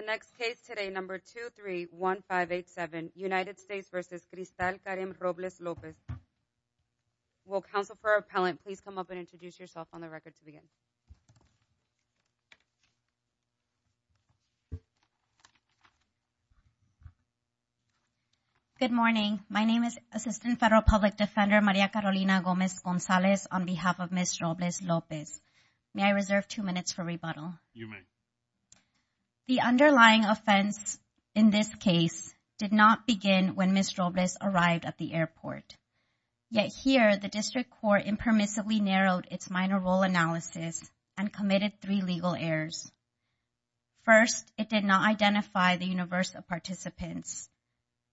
The next case today, number 231587, United States v. Cristal Karim Robles-Lopez. Will counsel for appellant please come up and introduce yourself on the record to begin? Good morning. My name is Assistant Federal Public Defender Maria Carolina Gomez-Gonzalez on behalf of Ms. Robles-Lopez. May I reserve two minutes for rebuttal? You may. The underlying offense in this case did not begin when Ms. Robles-Lopez arrived at the airport. Yet here, the district court impermissibly narrowed its minor role analysis and committed three legal errors. First, it did not identify the universal participants.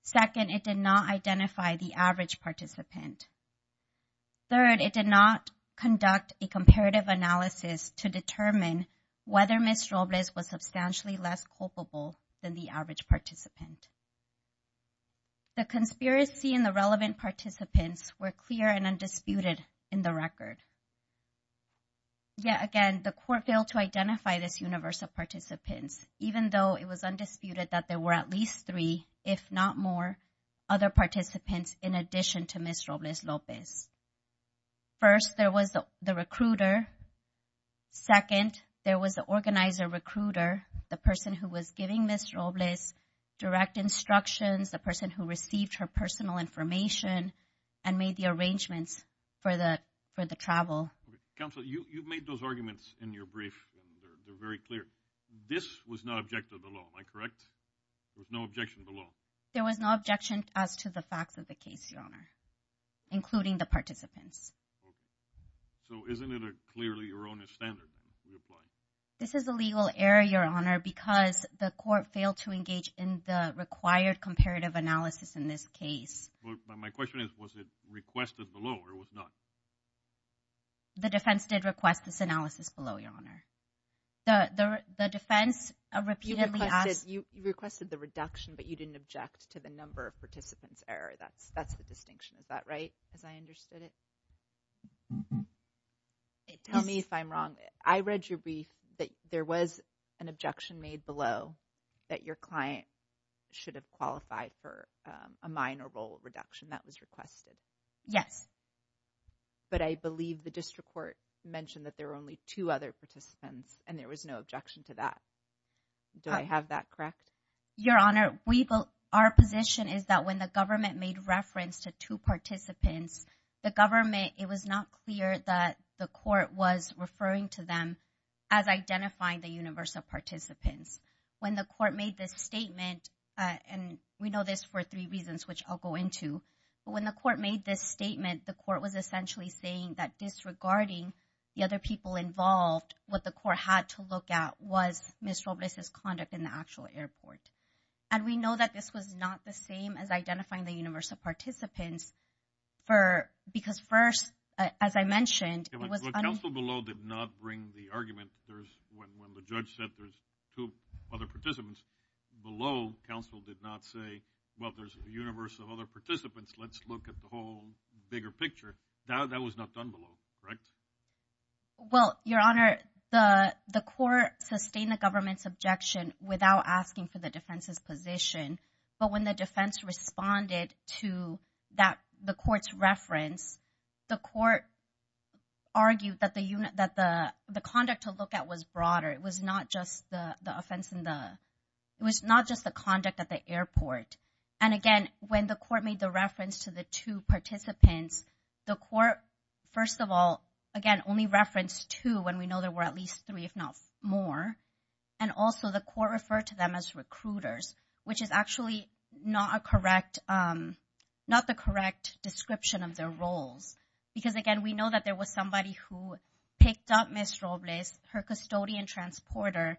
Second, it did not identify the average participant. Third, it did not conduct a comparative analysis to determine whether Ms. Robles-Lopez was substantially less culpable than the average participant. The conspiracy and the relevant participants were clear and undisputed in the record. Yet again, the court failed to identify this universal participants, even though it was undisputed that there were at least three, if not more, other participants in addition to Ms. Robles-Lopez. First, there was the recruiter. Second, there was the organizer recruiter, the person who was giving Ms. Robles direct instructions, the person who received her personal information and made the arrangements for the travel. Counsel, you've made those arguments in your brief and they're very clear. This was not objective of the law, am I correct? There was no objection to the law? There was no objection as to the facts of the case, Your Honor, including the participants. Okay. So, isn't it a clearly erroneous standard that you applied? This is a legal error, Your Honor, because the court failed to engage in the required comparative analysis in this case. Well, my question is, was it requested below or was not? The defense did request this analysis below, Your Honor. The defense repeatedly asked... You requested the reduction, but you didn't object to the number of participants error. That's the distinction. Is that right? As I understood it? Tell me if I'm wrong. I read your brief that there was an objection made below that your client should have qualified for a minor role reduction that was requested. Yes. But I believe the district court mentioned that there were only two other participants and there was no objection to that. Do I have that correct? Your Honor, our position is that when the government made reference to two participants, the government, it was not clear that the court was referring to them as identifying the universal participants. When the court made this statement, and we know this for three reasons, which I'll go into, but when the court made this statement, the court was essentially saying that disregarding the other people involved, what the court had to look at was Ms. Robles' conduct in the actual airport. And we know that this was not the same as identifying the universal participants for... Because first, as I mentioned, it was... But counsel below did not bring the argument that there's... When the judge said there's two other participants below, counsel did not say, well, there's a universe of other participants, let's look at the whole bigger picture. That was not done below, correct? Well, Your Honor, the court sustained the government's objection without asking for the defense's position. But when the defense responded to the court's reference, the court argued that the conduct to look at was broader. It was not just the offense in the... It was not just the conduct at the airport. And again, when the court made the reference to the two participants, the court, first of all, again, only referenced two when we know there were at least three, if not more. And also the court referred to them as recruiters, which is actually not the correct description of their roles. Because again, we know that there was somebody who picked up Ms. Robles, her custodian transporter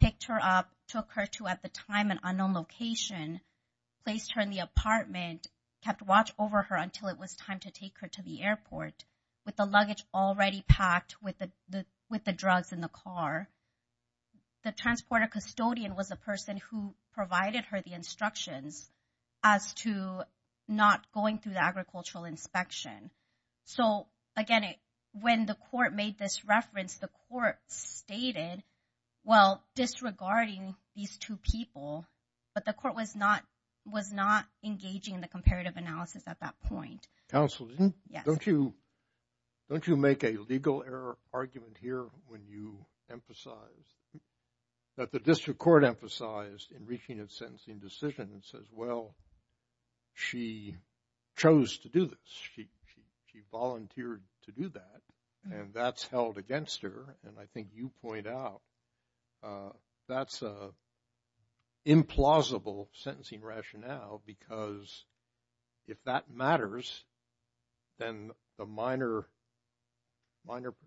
picked her up, took her to, at the time, an unknown location, placed her in the apartment, kept watch over her until it was time to take her to the airport with the luggage already packed with the drugs in the car. The transporter custodian was the person who provided her the instructions as to not going through the agricultural inspection. So again, when the court made this reference, the court stated, well, disregarding these two people, but the court was not engaging in the comparative analysis at that point. Counsel, don't you make a legal error argument here when you emphasize that the district court emphasized in reaching a sentencing decision and says, well, she chose to do this. She volunteered to do that, and that's held against her. And I think you point out that's an implausible sentencing rationale, because if that matters, then the minor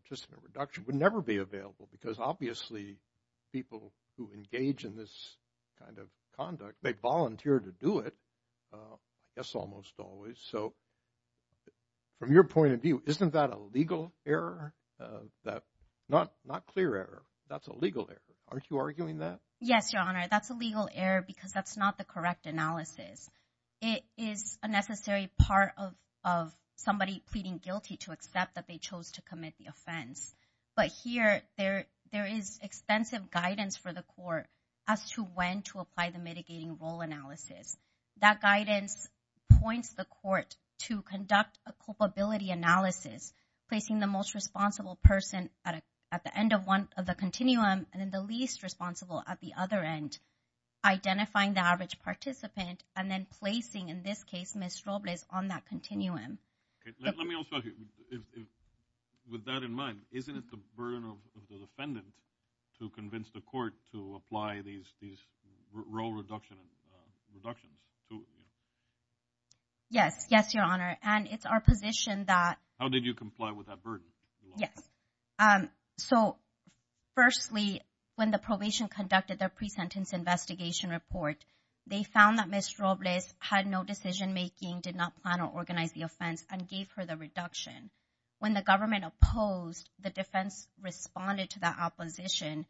participant reduction would never be available, because obviously people who engage in this kind of conduct, they volunteer to do it, I guess almost always. So from your point of view, isn't that a legal error? Not clear error. That's a legal error. Aren't you arguing that? Yes, Your Honor. That's a legal error, because that's not the correct analysis. It is a necessary part of somebody pleading guilty to accept that they chose to commit the offense. But here, there is extensive guidance for the court as to when to apply the mitigating role analysis. That guidance points the court to conduct a culpability analysis, placing the most responsible person at the end of the continuum, and then the least responsible at the other end, identifying the average participant, and then placing, in this case, Ms. Robles on that continuum. Okay. Let me also ask you, with that in mind, isn't it the burden of the defendant to convince the court to apply these role reductions to you? Yes. Yes, Your Honor. And it's our position that- How did you comply with that burden? Yes. So firstly, when the probation conducted their pre-sentence investigation report, they found that Ms. Robles had no decision-making, did not plan or organize the offense, and gave her the reduction. When the government opposed, the defense responded to that opposition.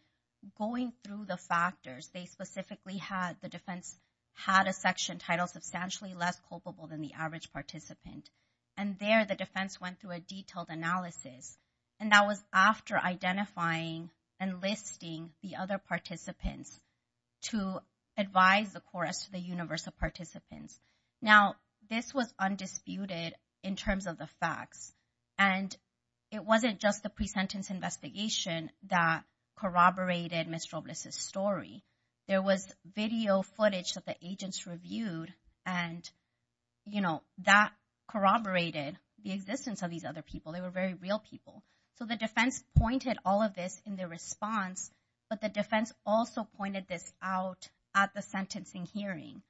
Going through the factors, they specifically had- The defense had a section titled, Substantially Less Culpable Than the Average Participant. And there, the defense went through a detailed analysis. And that was after identifying and listing the other participants to advise the courts to the universal participants. Now, this was undisputed in terms of the facts. And it wasn't just the pre-sentence investigation that corroborated Ms. Robles' story. There was video footage that the agents reviewed, and that corroborated the existence of these other people. They were very real people. So the defense pointed all of this in their response, but the defense also pointed this out at the sentencing hearing.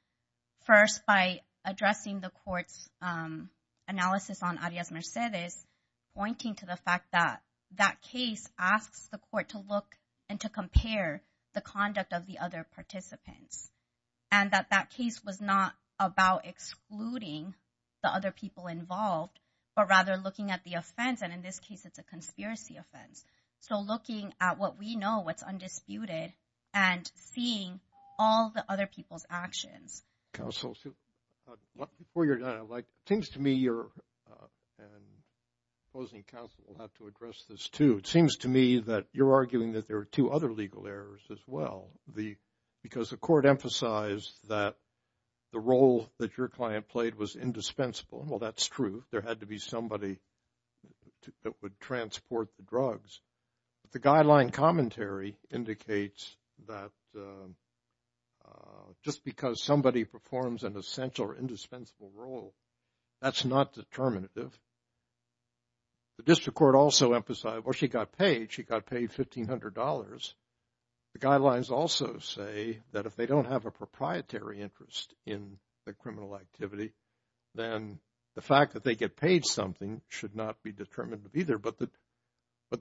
First, by addressing the court's analysis on Arias Mercedes, pointing to the fact that that case asks the court to look and to compare the conduct of the other participants. And that that case was not about excluding the other people involved, but rather looking at the offense. And in this case, it's a conspiracy offense. So looking at what we know, what's undisputed, and seeing all the other people's actions. Counsel, before you're done, I'd like, it seems to me you're, and opposing counsel will have to address this too. It seems to me that you're arguing that there are two other legal errors as well. Because the court emphasized that the role that your client played was indispensable. Well, that's true. There had to be somebody that would transport the drugs. The guideline commentary indicates that just because somebody performs an essential or indispensable role, that's not determinative. The district court also emphasized, well, she got paid, she got paid $1,500. The guidelines also say that if they don't have a proprietary interest in the criminal activity, then the fact that they get paid something should not be determinative either. But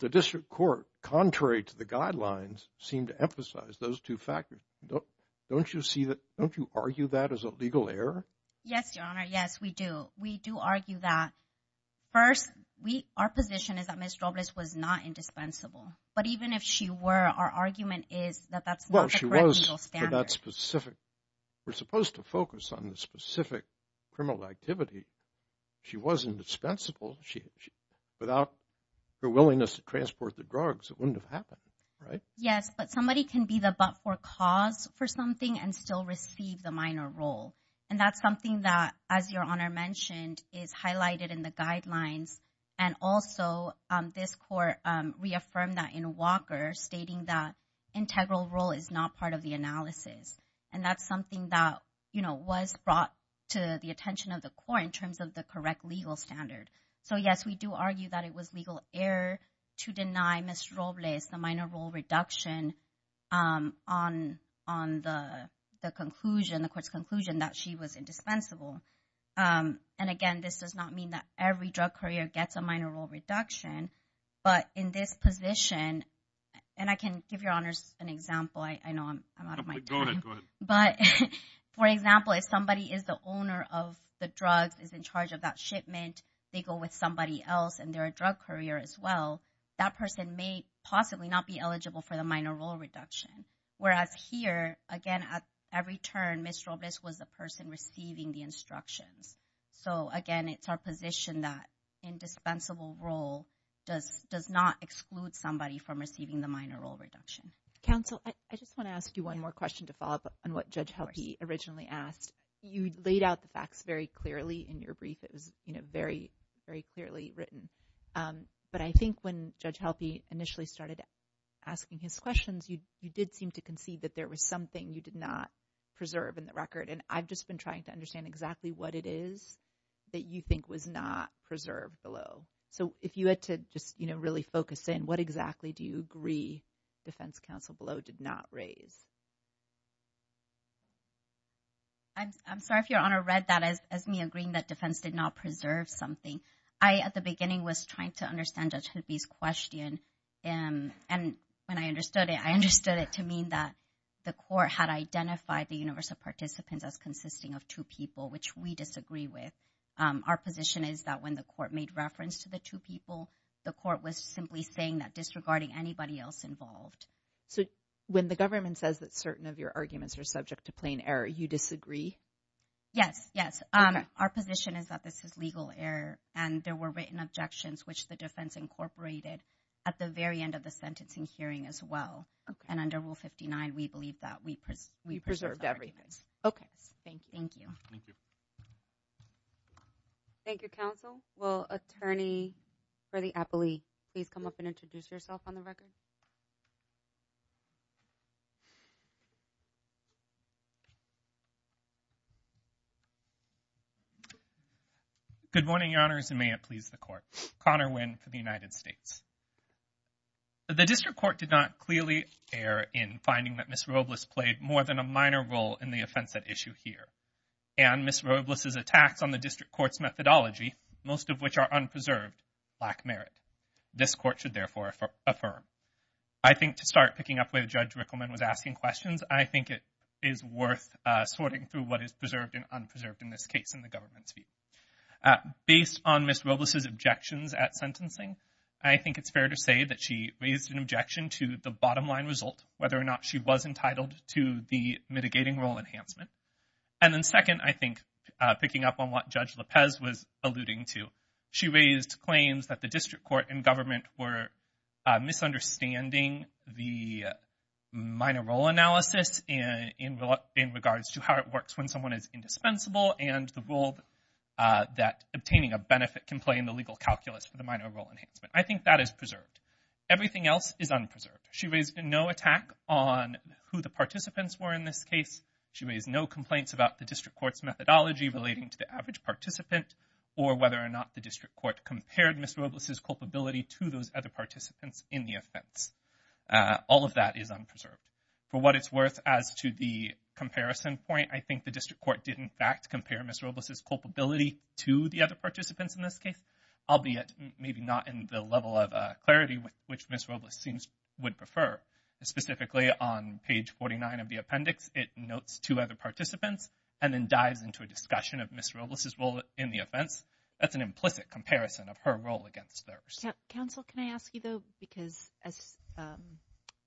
the district court, contrary to the guidelines, seemed to emphasize those two factors. Don't you see that? Don't you argue that as a legal error? Yes, Your Honor. Yes, we do. We do argue that. First, our position is that Ms. Robles was not indispensable. But even if she were, our argument is that that's not the correct legal standard. Well, she was for that specific. We're supposed to focus on the specific criminal activity. She was indispensable. Without her willingness to transport the drugs, it wouldn't have happened, right? Yes, but somebody can be the but-for-cause for something and still receive the minor role. And that's something that, as Your Honor mentioned, is highlighted in the guidelines. And also, this court reaffirmed that in Walker, stating that integral role is not part of the analysis. And that's something that was brought to the attention of the court in terms of the correct legal standard. So, yes, we do argue that it was legal error to deny Ms. Robles the minor role reduction on the conclusion, the court's conclusion, that she was indispensable. And again, this does not mean that every drug courier gets a minor role reduction. But in this position, and I can give Your Honors an example. I know I'm out of my time. Go ahead, go ahead. But, for example, if somebody is the owner of the drugs, is in charge of that shipment, they go with somebody else and they're a drug courier as well, that person may possibly not be eligible for the minor role reduction. Whereas here, again, at every turn, Ms. Robles was the person receiving the instructions. So again, it's our position that indispensable role does not exclude somebody from receiving the minor role reduction. Counsel, I just want to ask you one more question to follow up on what Judge Helpe originally asked. You laid out the facts very clearly in your brief. It was, you know, very, very clearly written. But I think when Judge Helpe initially started asking his questions, you did seem to conceive that there was something you did not preserve in the record. And I've just been trying to understand exactly what it is that you think was not preserved below. So if you had to just, you know, really focus in, what exactly do you agree Defense Counsel below did not raise? I'm sorry if Your Honor read that as me agreeing that defense did not preserve something. I at the beginning was trying to understand Judge Helpe's question. And when I understood it, I understood it to mean that the court had identified the universal participants as consisting of two people, which we disagree with. Our position is that when the court made reference to the two people, the court was simply saying that disregarding anybody else involved. So when the government says that certain of your arguments are subject to plain error, you disagree? Yes. Yes. Our position is that this is legal error. And there were written objections, which the defense incorporated at the very end of the sentencing hearing as well. And under Rule 59, we believe that we preserved everything. Okay. Thank you. Thank you, Counsel. Will Attorney for the Appellee please come up and introduce yourself on the record? Good morning, Your Honors. And may it please the Court. Connor Winn for the United States. The District Court did not clearly err in finding that Ms. Robles played more than a minor role in the offense at issue here. And Ms. Robles' attacks on the District Court's methodology, most of which are unpreserved, lack merit. This Court should therefore affirm. I think to start picking up where Judge Rickleman was asking questions, I think it is worth sorting through what is preserved and unpreserved in this case in the government's view. Based on Ms. Robles' objections at sentencing, I think it's fair to say that she raised an objection to the bottom line result, whether or not she was entitled to the mitigating role enhancement. And then second, I think picking up on what Judge Lopez was alluding to, she raised claims that the District Court and government were misunderstanding the minor role analysis in regards to how it works when someone is indispensable and the role that obtaining a benefit can play in the legal calculus for the minor role enhancement. I think that is preserved. Everything else is unpreserved. She raised no attack on who the participants were in this case. She raised no complaints about the District Court's methodology relating to the average participant or whether or not the District Court compared Ms. Robles' culpability to those other participants in the offense. All of that is unpreserved. For what it's worth, as to the comparison point, I think the District Court did in fact compare Ms. Robles' culpability to the other participants in this case, albeit maybe not in the level of clarity which Ms. Robles would prefer. Specifically, on page 49 of the appendix, it notes two other participants and then dives into a discussion of Ms. Robles' role in the offense. That's an implicit comparison of her role against theirs. Counsel, can I ask you though, because as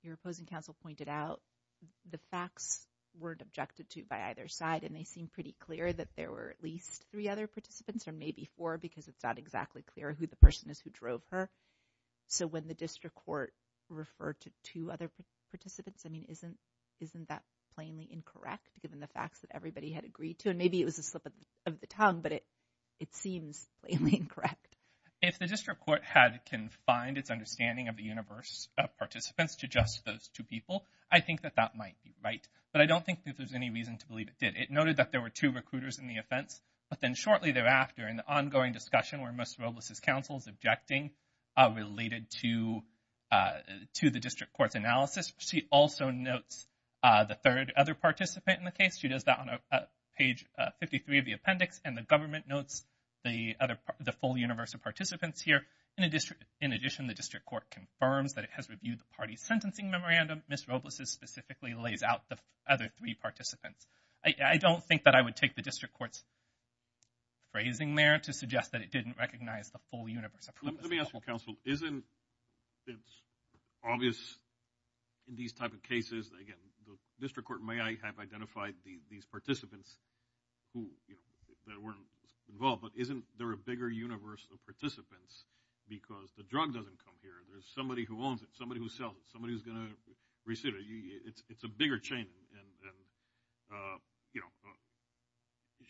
your opposing counsel pointed out, the facts weren't objected to by either side and they seem pretty clear that there were at least three other participants or maybe four because it's not exactly clear who the person is who drove her. So when the District Court referred to two other participants, I mean, isn't that plainly incorrect given the facts that everybody had agreed to? And maybe it was a slip of the tongue, but it seems plainly incorrect. If the District Court had confined its understanding of the universe of participants to just those two people, I think that that might be right. But I don't think that there's any reason to believe it did. It noted that there were two recruiters in the offense, but then shortly thereafter in the ongoing discussion where Ms. Robles' counsel is objecting related to the District Court's analysis, she also notes the third other participant in the case. She does that on page 53 of the appendix and the government notes the full universe of participants here. In addition, the District Court confirms that it has reviewed the party's sentencing memorandum. Ms. Robles' specifically lays out the other three participants. I don't think that I would take the District Court's phrasing there to suggest that it didn't recognize the full universe of participants. Let me ask you, counsel. Isn't it obvious in these type of cases, again, the District Court may have identified these participants who weren't involved, but isn't there a bigger universe of participants because the drug doesn't come here? There's somebody who owns it, somebody who sells it, somebody who's going to receive it. It's a bigger chain.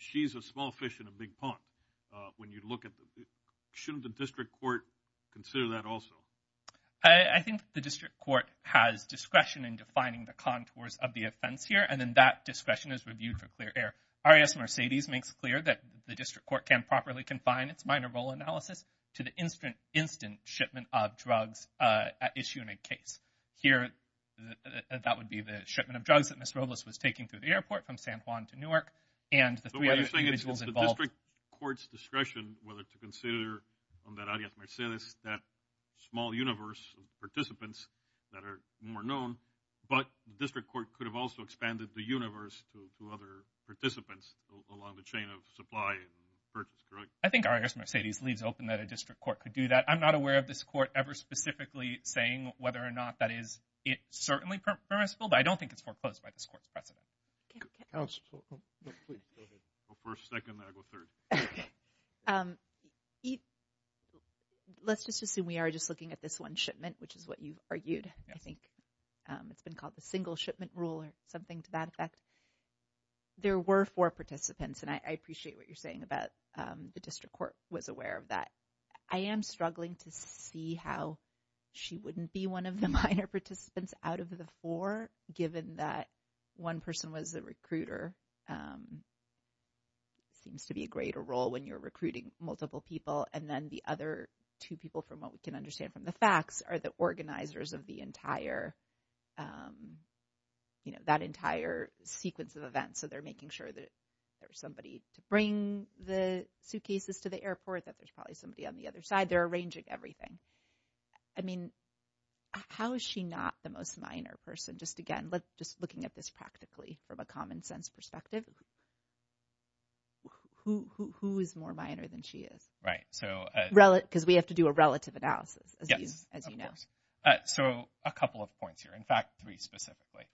She's a small fish in a big pond. Shouldn't the District Court consider that also? I think the District Court has discretion in defining the contours of the offense here and then that discretion is reviewed for clear air. RAS Mercedes makes clear that the District Court can properly confine its minor role analysis to the instant shipment of drugs at issue in a case. Here, that would be the shipment of drugs that Ms. Robles was taking through the airport from San Juan to Newark and the three other individuals involved. So what you're saying is the District Court's discretion whether to consider on that RAS Mercedes that small universe of participants that are more known, but the District Court could have also expanded the universe to other participants along the chain of supply and purchase, correct? I think RAS Mercedes leaves open that a District Court could do that. I'm not aware of this Court ever specifically saying whether or not that is certainly permissible, but I don't think it's foreclosed by this Court's precedent. Let's just assume we are just looking at this one shipment, which is what you argued. I think it's been called the single shipment rule or something to that effect. There were four participants and I appreciate what you're saying about the District Court was aware of that. I am struggling to see how she wouldn't be one of the minor participants out of the four given that one person was a recruiter. Seems to be a greater role when you're recruiting multiple people and then the other two people from what we can understand from the facts are the organizers of that entire sequence of events. So they're making sure that there's somebody to bring the suitcases to the airport, that there's probably somebody on the other side. They're arranging everything. I mean, how is she not the most minor person? Just again, just looking at this practically from a common sense perspective. Who is more minor than she is? Because we have to do a relative analysis, as you know. So a couple of points here. In fact, three specifically.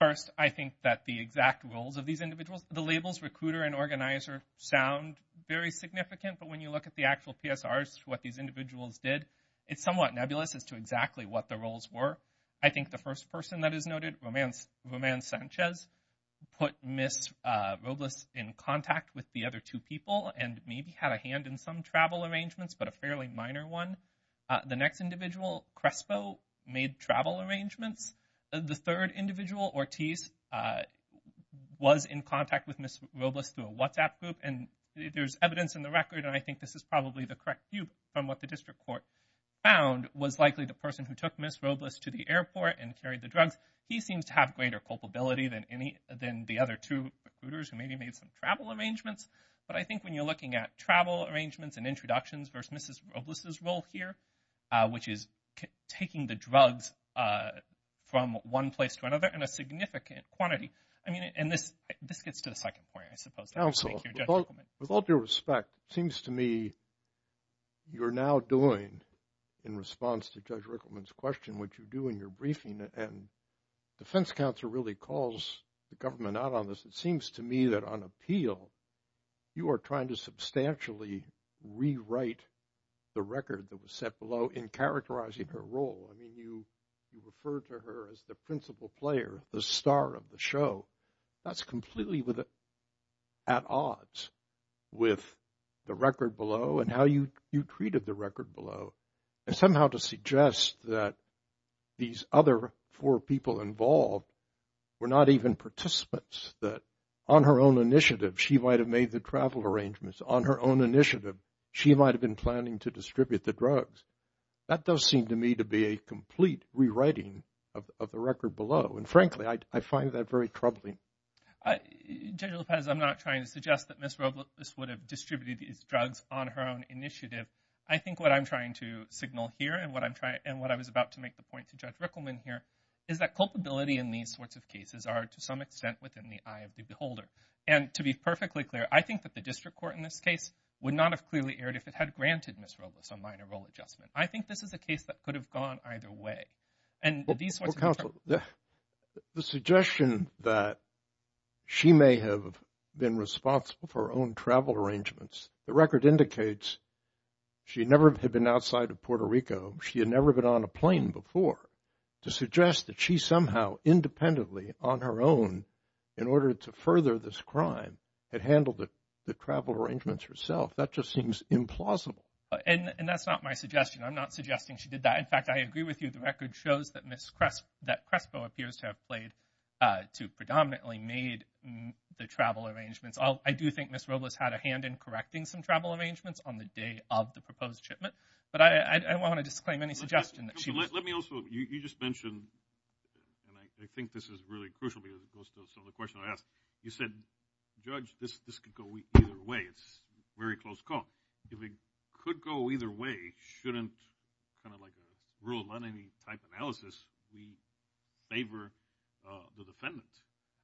First, I think that the exact roles of these individuals, the labels recruiter and organizer sound very significant. But when you look at the actual PSRs, what these individuals did, it's somewhat nebulous as to exactly what the roles were. I think the first person that is noted, Roman Sanchez, put Ms. Robles in contact with the other two people and maybe had a hand in some travel arrangements, but a fairly minor one. The next individual, Crespo, made travel arrangements. The third individual, Ortiz, was in contact with Ms. Robles through a WhatsApp group. And there's evidence in the record, and I think this is probably the correct view from what the district court found, was likely the person who took Ms. Robles to the airport and carried the drugs. He seems to have greater culpability than the other two recruiters who maybe made some travel arrangements. But I think when you're looking at travel arrangements and introductions versus Ms. Robles' role here, which is taking the drugs from one place to another in a significant quantity, I mean, and this gets to the second point, I suppose. Thank you, Judge Rickleman. With all due respect, it seems to me you're now doing, in response to Judge Rickleman's question, what you do in your briefing. And defense counsel really calls the government out on this. It seems to me that on appeal, you are trying to substantially rewrite the record that was set below in characterizing her role. I mean, you refer to her as the principal player, the star of the show. That's completely at odds with the record below and how you treated the record below. And somehow to suggest that these other four people involved were not even participants, that on her own initiative she might have made the travel arrangements, on her own initiative she might have been planning to distribute the drugs. That does seem to me to be a complete rewriting of the record below. And frankly, I find that very troubling. Judge Lopez, I'm not trying to suggest that Ms. Robles would have distributed these drugs on her own initiative. I think what I'm trying to signal here and what I was about to make the point to Judge Rickleman here is that culpability in these sorts of cases are to some extent within the eye of the beholder. And to be perfectly clear, I think that the district court in this case would not have clearly erred if it had granted Ms. Robles a minor role adjustment. I think this is a case that could have gone either way. And these sorts of – Well, counsel, the suggestion that she may have been responsible for her own travel arrangements, the record indicates she never had been outside of Puerto Rico. She had never been on a plane before. To suggest that she somehow independently, on her own, in order to further this crime, had handled the travel arrangements herself, that just seems implausible. And that's not my suggestion. I'm not suggesting she did that. In fact, I agree with you. The record shows that Ms. Crespo appears to have played – to predominantly made the travel arrangements. I do think Ms. Robles had a hand in correcting some travel arrangements on the day of the proposed shipment. But I don't want to disclaim any suggestion that she – Let me also – you just mentioned, and I think this is really crucial because it goes to some of the questions I asked. You said, Judge, this could go either way. It's a very close call. If it could go either way, shouldn't, kind of like a rule on any type of analysis, we favor the defendant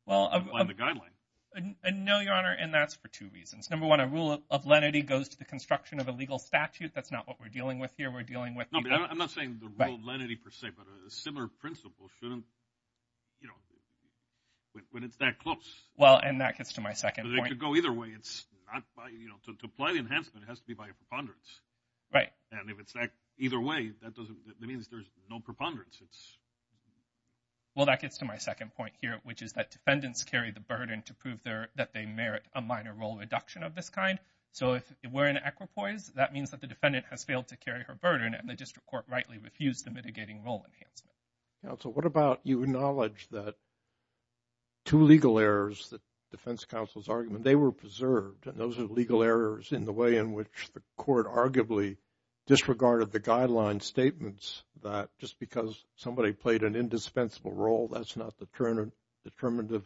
on the guideline? No, Your Honor, and that's for two reasons. Number one, a rule of lenity goes to the construction of a legal statute. That's not what we're dealing with here. We're dealing with – I'm not saying the rule of lenity per se, but a similar principle shouldn't – when it's that close. Well, and that gets to my second point. It could go either way. It's not by – to apply the enhancement, it has to be by a preponderance. Right. And if it's that either way, that doesn't – that means there's no preponderance. Well, that gets to my second point here, which is that defendants carry the burden to prove that they merit a minor role reduction of this kind. So if we're in equipoise, that means that the defendant has failed to carry her burden and the district court rightly refused the mitigating role enhancement. Counsel, what about you acknowledge that two legal errors, the defense counsel's argument, they were preserved, and those are legal errors in the way in which the court arguably disregarded the guideline statements that just because somebody played an indispensable role, that's not determinative.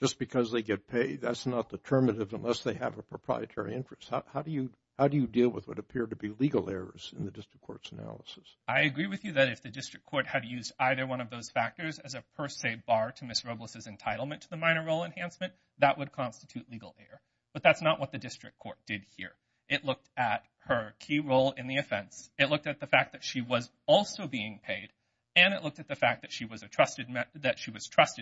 Just because they get paid, that's not determinative unless they have a proprietary interest. How do you deal with what appear to be legal errors in the district court's analysis? I agree with you that if the district court had used either one of those factors as a per se bar to Ms. Robles' entitlement to the minor role enhancement, that would constitute legal error. But that's not what the district court did here. It looked at her key role in the offense. It looked at the fact that she was also being paid, and it looked at the fact that she was trusted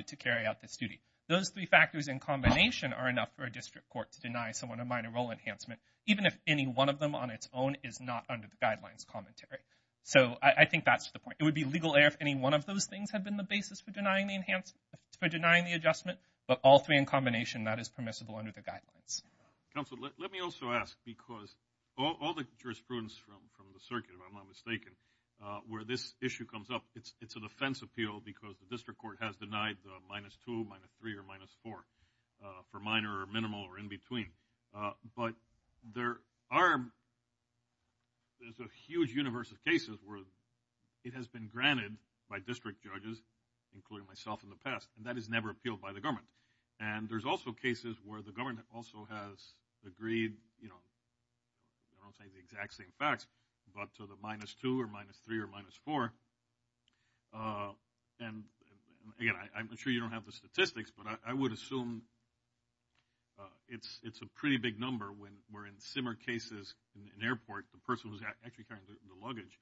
to carry out this duty. Those three factors in combination are enough for a district court to deny someone a minor role enhancement, even if any one of them on its own is not under the guidelines commentary. So I think that's the point. It would be legal error if any one of those things had been the basis for denying the enhancement, for denying the adjustment, but all three in combination, that is permissible under the guidelines. Counsel, let me also ask, because all the jurisprudence from the circuit, if I'm not mistaken, where this issue comes up, it's a defense appeal because the district court has denied the minus two, minus three, or minus four for minor or minimal or in between. But there's a huge universe of cases where it has been granted by district judges, including myself in the past, and that is never appealed by the government. And there's also cases where the government also has agreed, I don't want to say the exact same facts, but to the minus two or minus three or minus four, and again, I'm sure you don't have the statistics, but I would assume it's a pretty big number when we're in similar cases in an airport, the person who's actually carrying the luggage,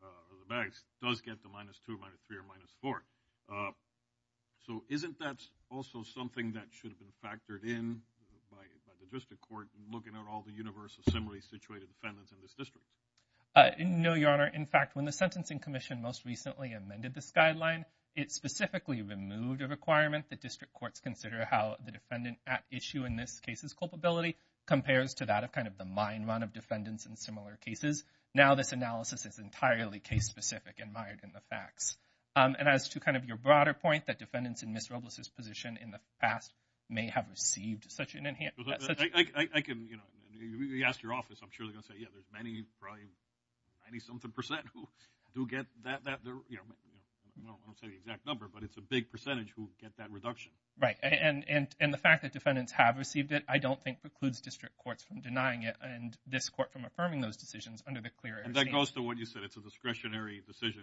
the bags, does get the minus two, minus three, or minus four. So isn't that also something that should have been factored in by the district court in looking at all the universe of similarly situated defendants in this district? No, Your Honor. In fact, when the Sentencing Commission most recently amended this guideline, it specifically removed a requirement that district courts consider how the defendant at issue in this case's culpability compares to that of kind of the mine run of defendants in similar cases. Now this analysis is entirely case-specific and mired in the facts. And as to kind of your broader point, that defendants in Ms. Robles' position in the past may have received such an enhanced I can, you know, you ask your office, I'm sure they're going to say, yeah, there's many, probably 90-something percent who do get that, you know, I won't say the exact number, but it's a big percentage who get that reduction. Right, and the fact that defendants have received it, I don't think precludes district courts from denying it and this court from affirming those decisions under the clear And that goes to what you said, it's a discretionary decision.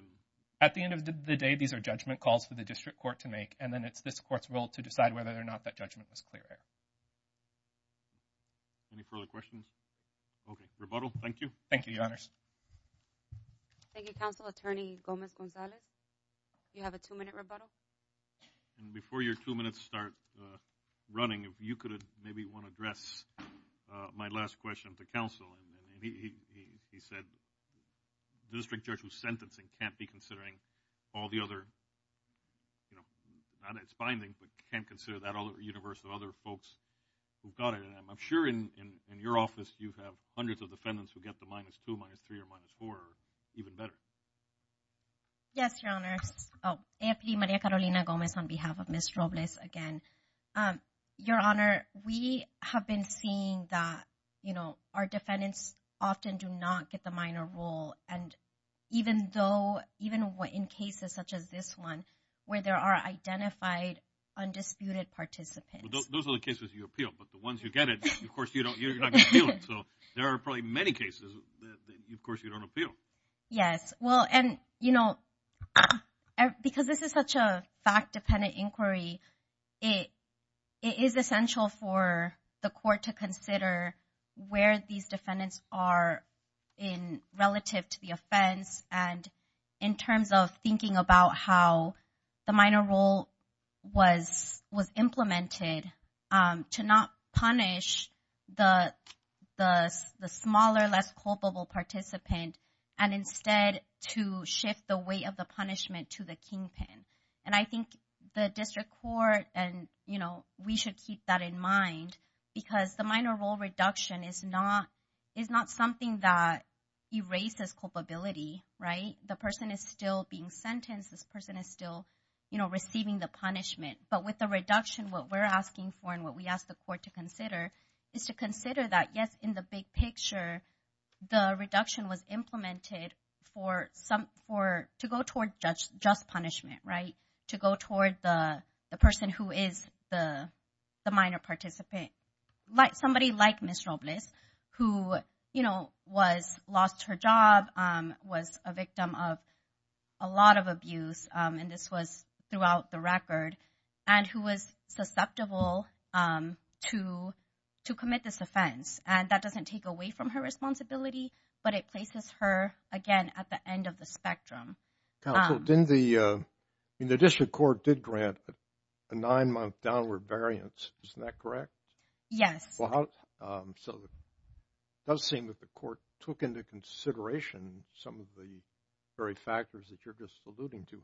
At the end of the day, these are judgment calls for the district court to make and then it's this court's role to decide whether or not that judgment was clear. Any further questions? Okay, rebuttal, thank you. Thank you, Your Honors. Thank you, Counsel, Attorney Gomez-Gonzalez. You have a two-minute rebuttal. And before your two minutes start running, if you could maybe want to address my last question to counsel. And he said the district judge who's sentencing can't be considering all the other, you know, not its findings, but can't consider that universe of other folks who got it. And I'm sure in your office you have hundreds of defendants who get the minus two, minus three, or minus four even better. Yes, Your Honors. Oh, AFP Maria Carolina Gomez on behalf of Ms. Robles again. Your Honor, we have been seeing that, you know, our defendants often do not get the minor rule. And even though, even in cases such as this one where there are identified undisputed participants. Those are the cases you appeal, but the ones you get it, of course, you don't appeal. So there are probably many cases that, of course, you don't appeal. Yes, well, and, you know, because this is such a fact-dependent inquiry, it is essential for the court to consider where these defendants are in relative to the offense. And in terms of thinking about how the minor rule was implemented, to not punish the smaller, less culpable participant, and instead to shift the weight of the punishment to the kingpin. And I think the district court and, you know, we should keep that in mind because the minor rule reduction is not something that erases culpability, right? The person is still being sentenced. This person is still, you know, receiving the punishment. But with the reduction, what we're asking for and what we ask the court to consider is to consider that, yes, in the big picture, the reduction was implemented to go toward just punishment, right? To go toward the person who is the minor participant, somebody like Ms. Robles, who, you know, lost her job, was a victim of a lot of abuse, and this was throughout the record, and who was susceptible to commit this offense. And that doesn't take away from her responsibility, but it places her, again, at the end of the spectrum. Counsel, in the district court did grant a nine-month downward variance. Isn't that correct? Yes. So it does seem that the court took into consideration some of the very factors that you're just alluding to.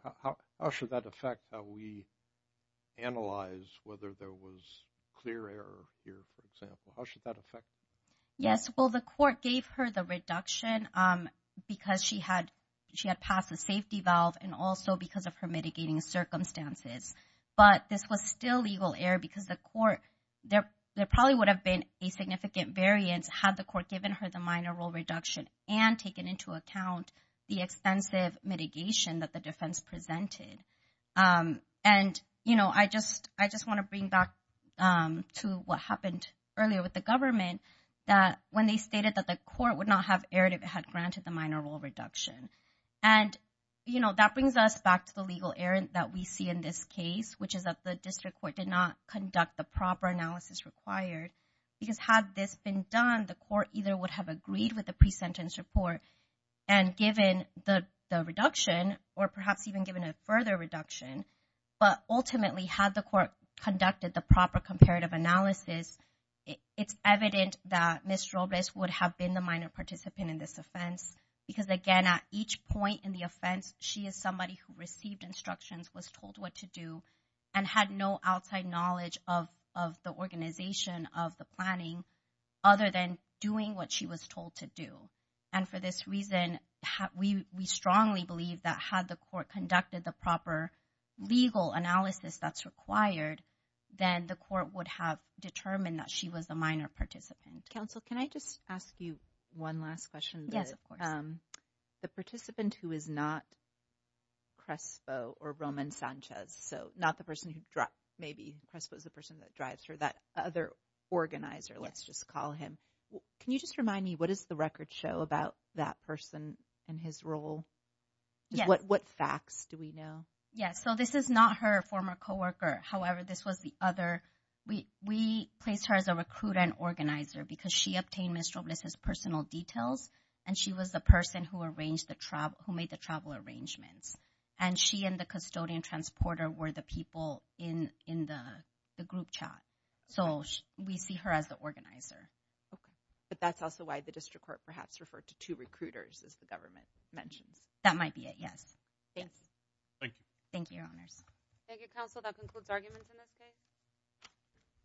How should that affect how we analyze whether there was clear error here, for example? How should that affect? Yes. Well, the court gave her the reduction because she had passed the safety valve and also because of her mitigating circumstances. But this was still legal error because the court, there probably would have been a significant variance had the court given her the minor role reduction and taken into account the extensive mitigation that the defense presented. And, you know, I just want to bring back to what happened earlier with the government that when they stated that the court would not have erred if it had granted the minor role reduction. And, you know, that brings us back to the legal error that we see in this case, which is that the district court did not conduct the proper analysis required because had this been done, the court either would have agreed with the pre-sentence report and given the reduction or perhaps even given a further reduction. But ultimately, had the court conducted the proper comparative analysis, it's evident that Ms. Robles would have been the minor participant in this offense because, again, at each point in the offense, she is somebody who received instructions, was told what to do, and had no outside knowledge of the organization of the planning other than doing what she was told to do. And for this reason, we strongly believe that had the court conducted the proper legal analysis that's required, then the court would have determined that she was the minor participant. Counsel, can I just ask you one last question? Yes, of course. The participant who is not Crespo or Roman Sanchez, so not the person who maybe Crespo is the person that drives her, that other organizer, let's just call him. Can you just remind me, what does the record show about that person and his role? What facts do we know? Yes, so this is not her former co-worker. However, this was the other. We placed her as a recruiter and organizer because she obtained Ms. Robles' personal details, and she was the person who made the travel arrangements. And she and the custodian transporter were the people in the group chat. So we see her as the organizer. But that's also why the district court perhaps referred to two recruiters, as the government mentions. That might be it, yes. Thanks. Thank you. Thank you, Your Honors. Thank you, Counsel. That concludes arguments in this case.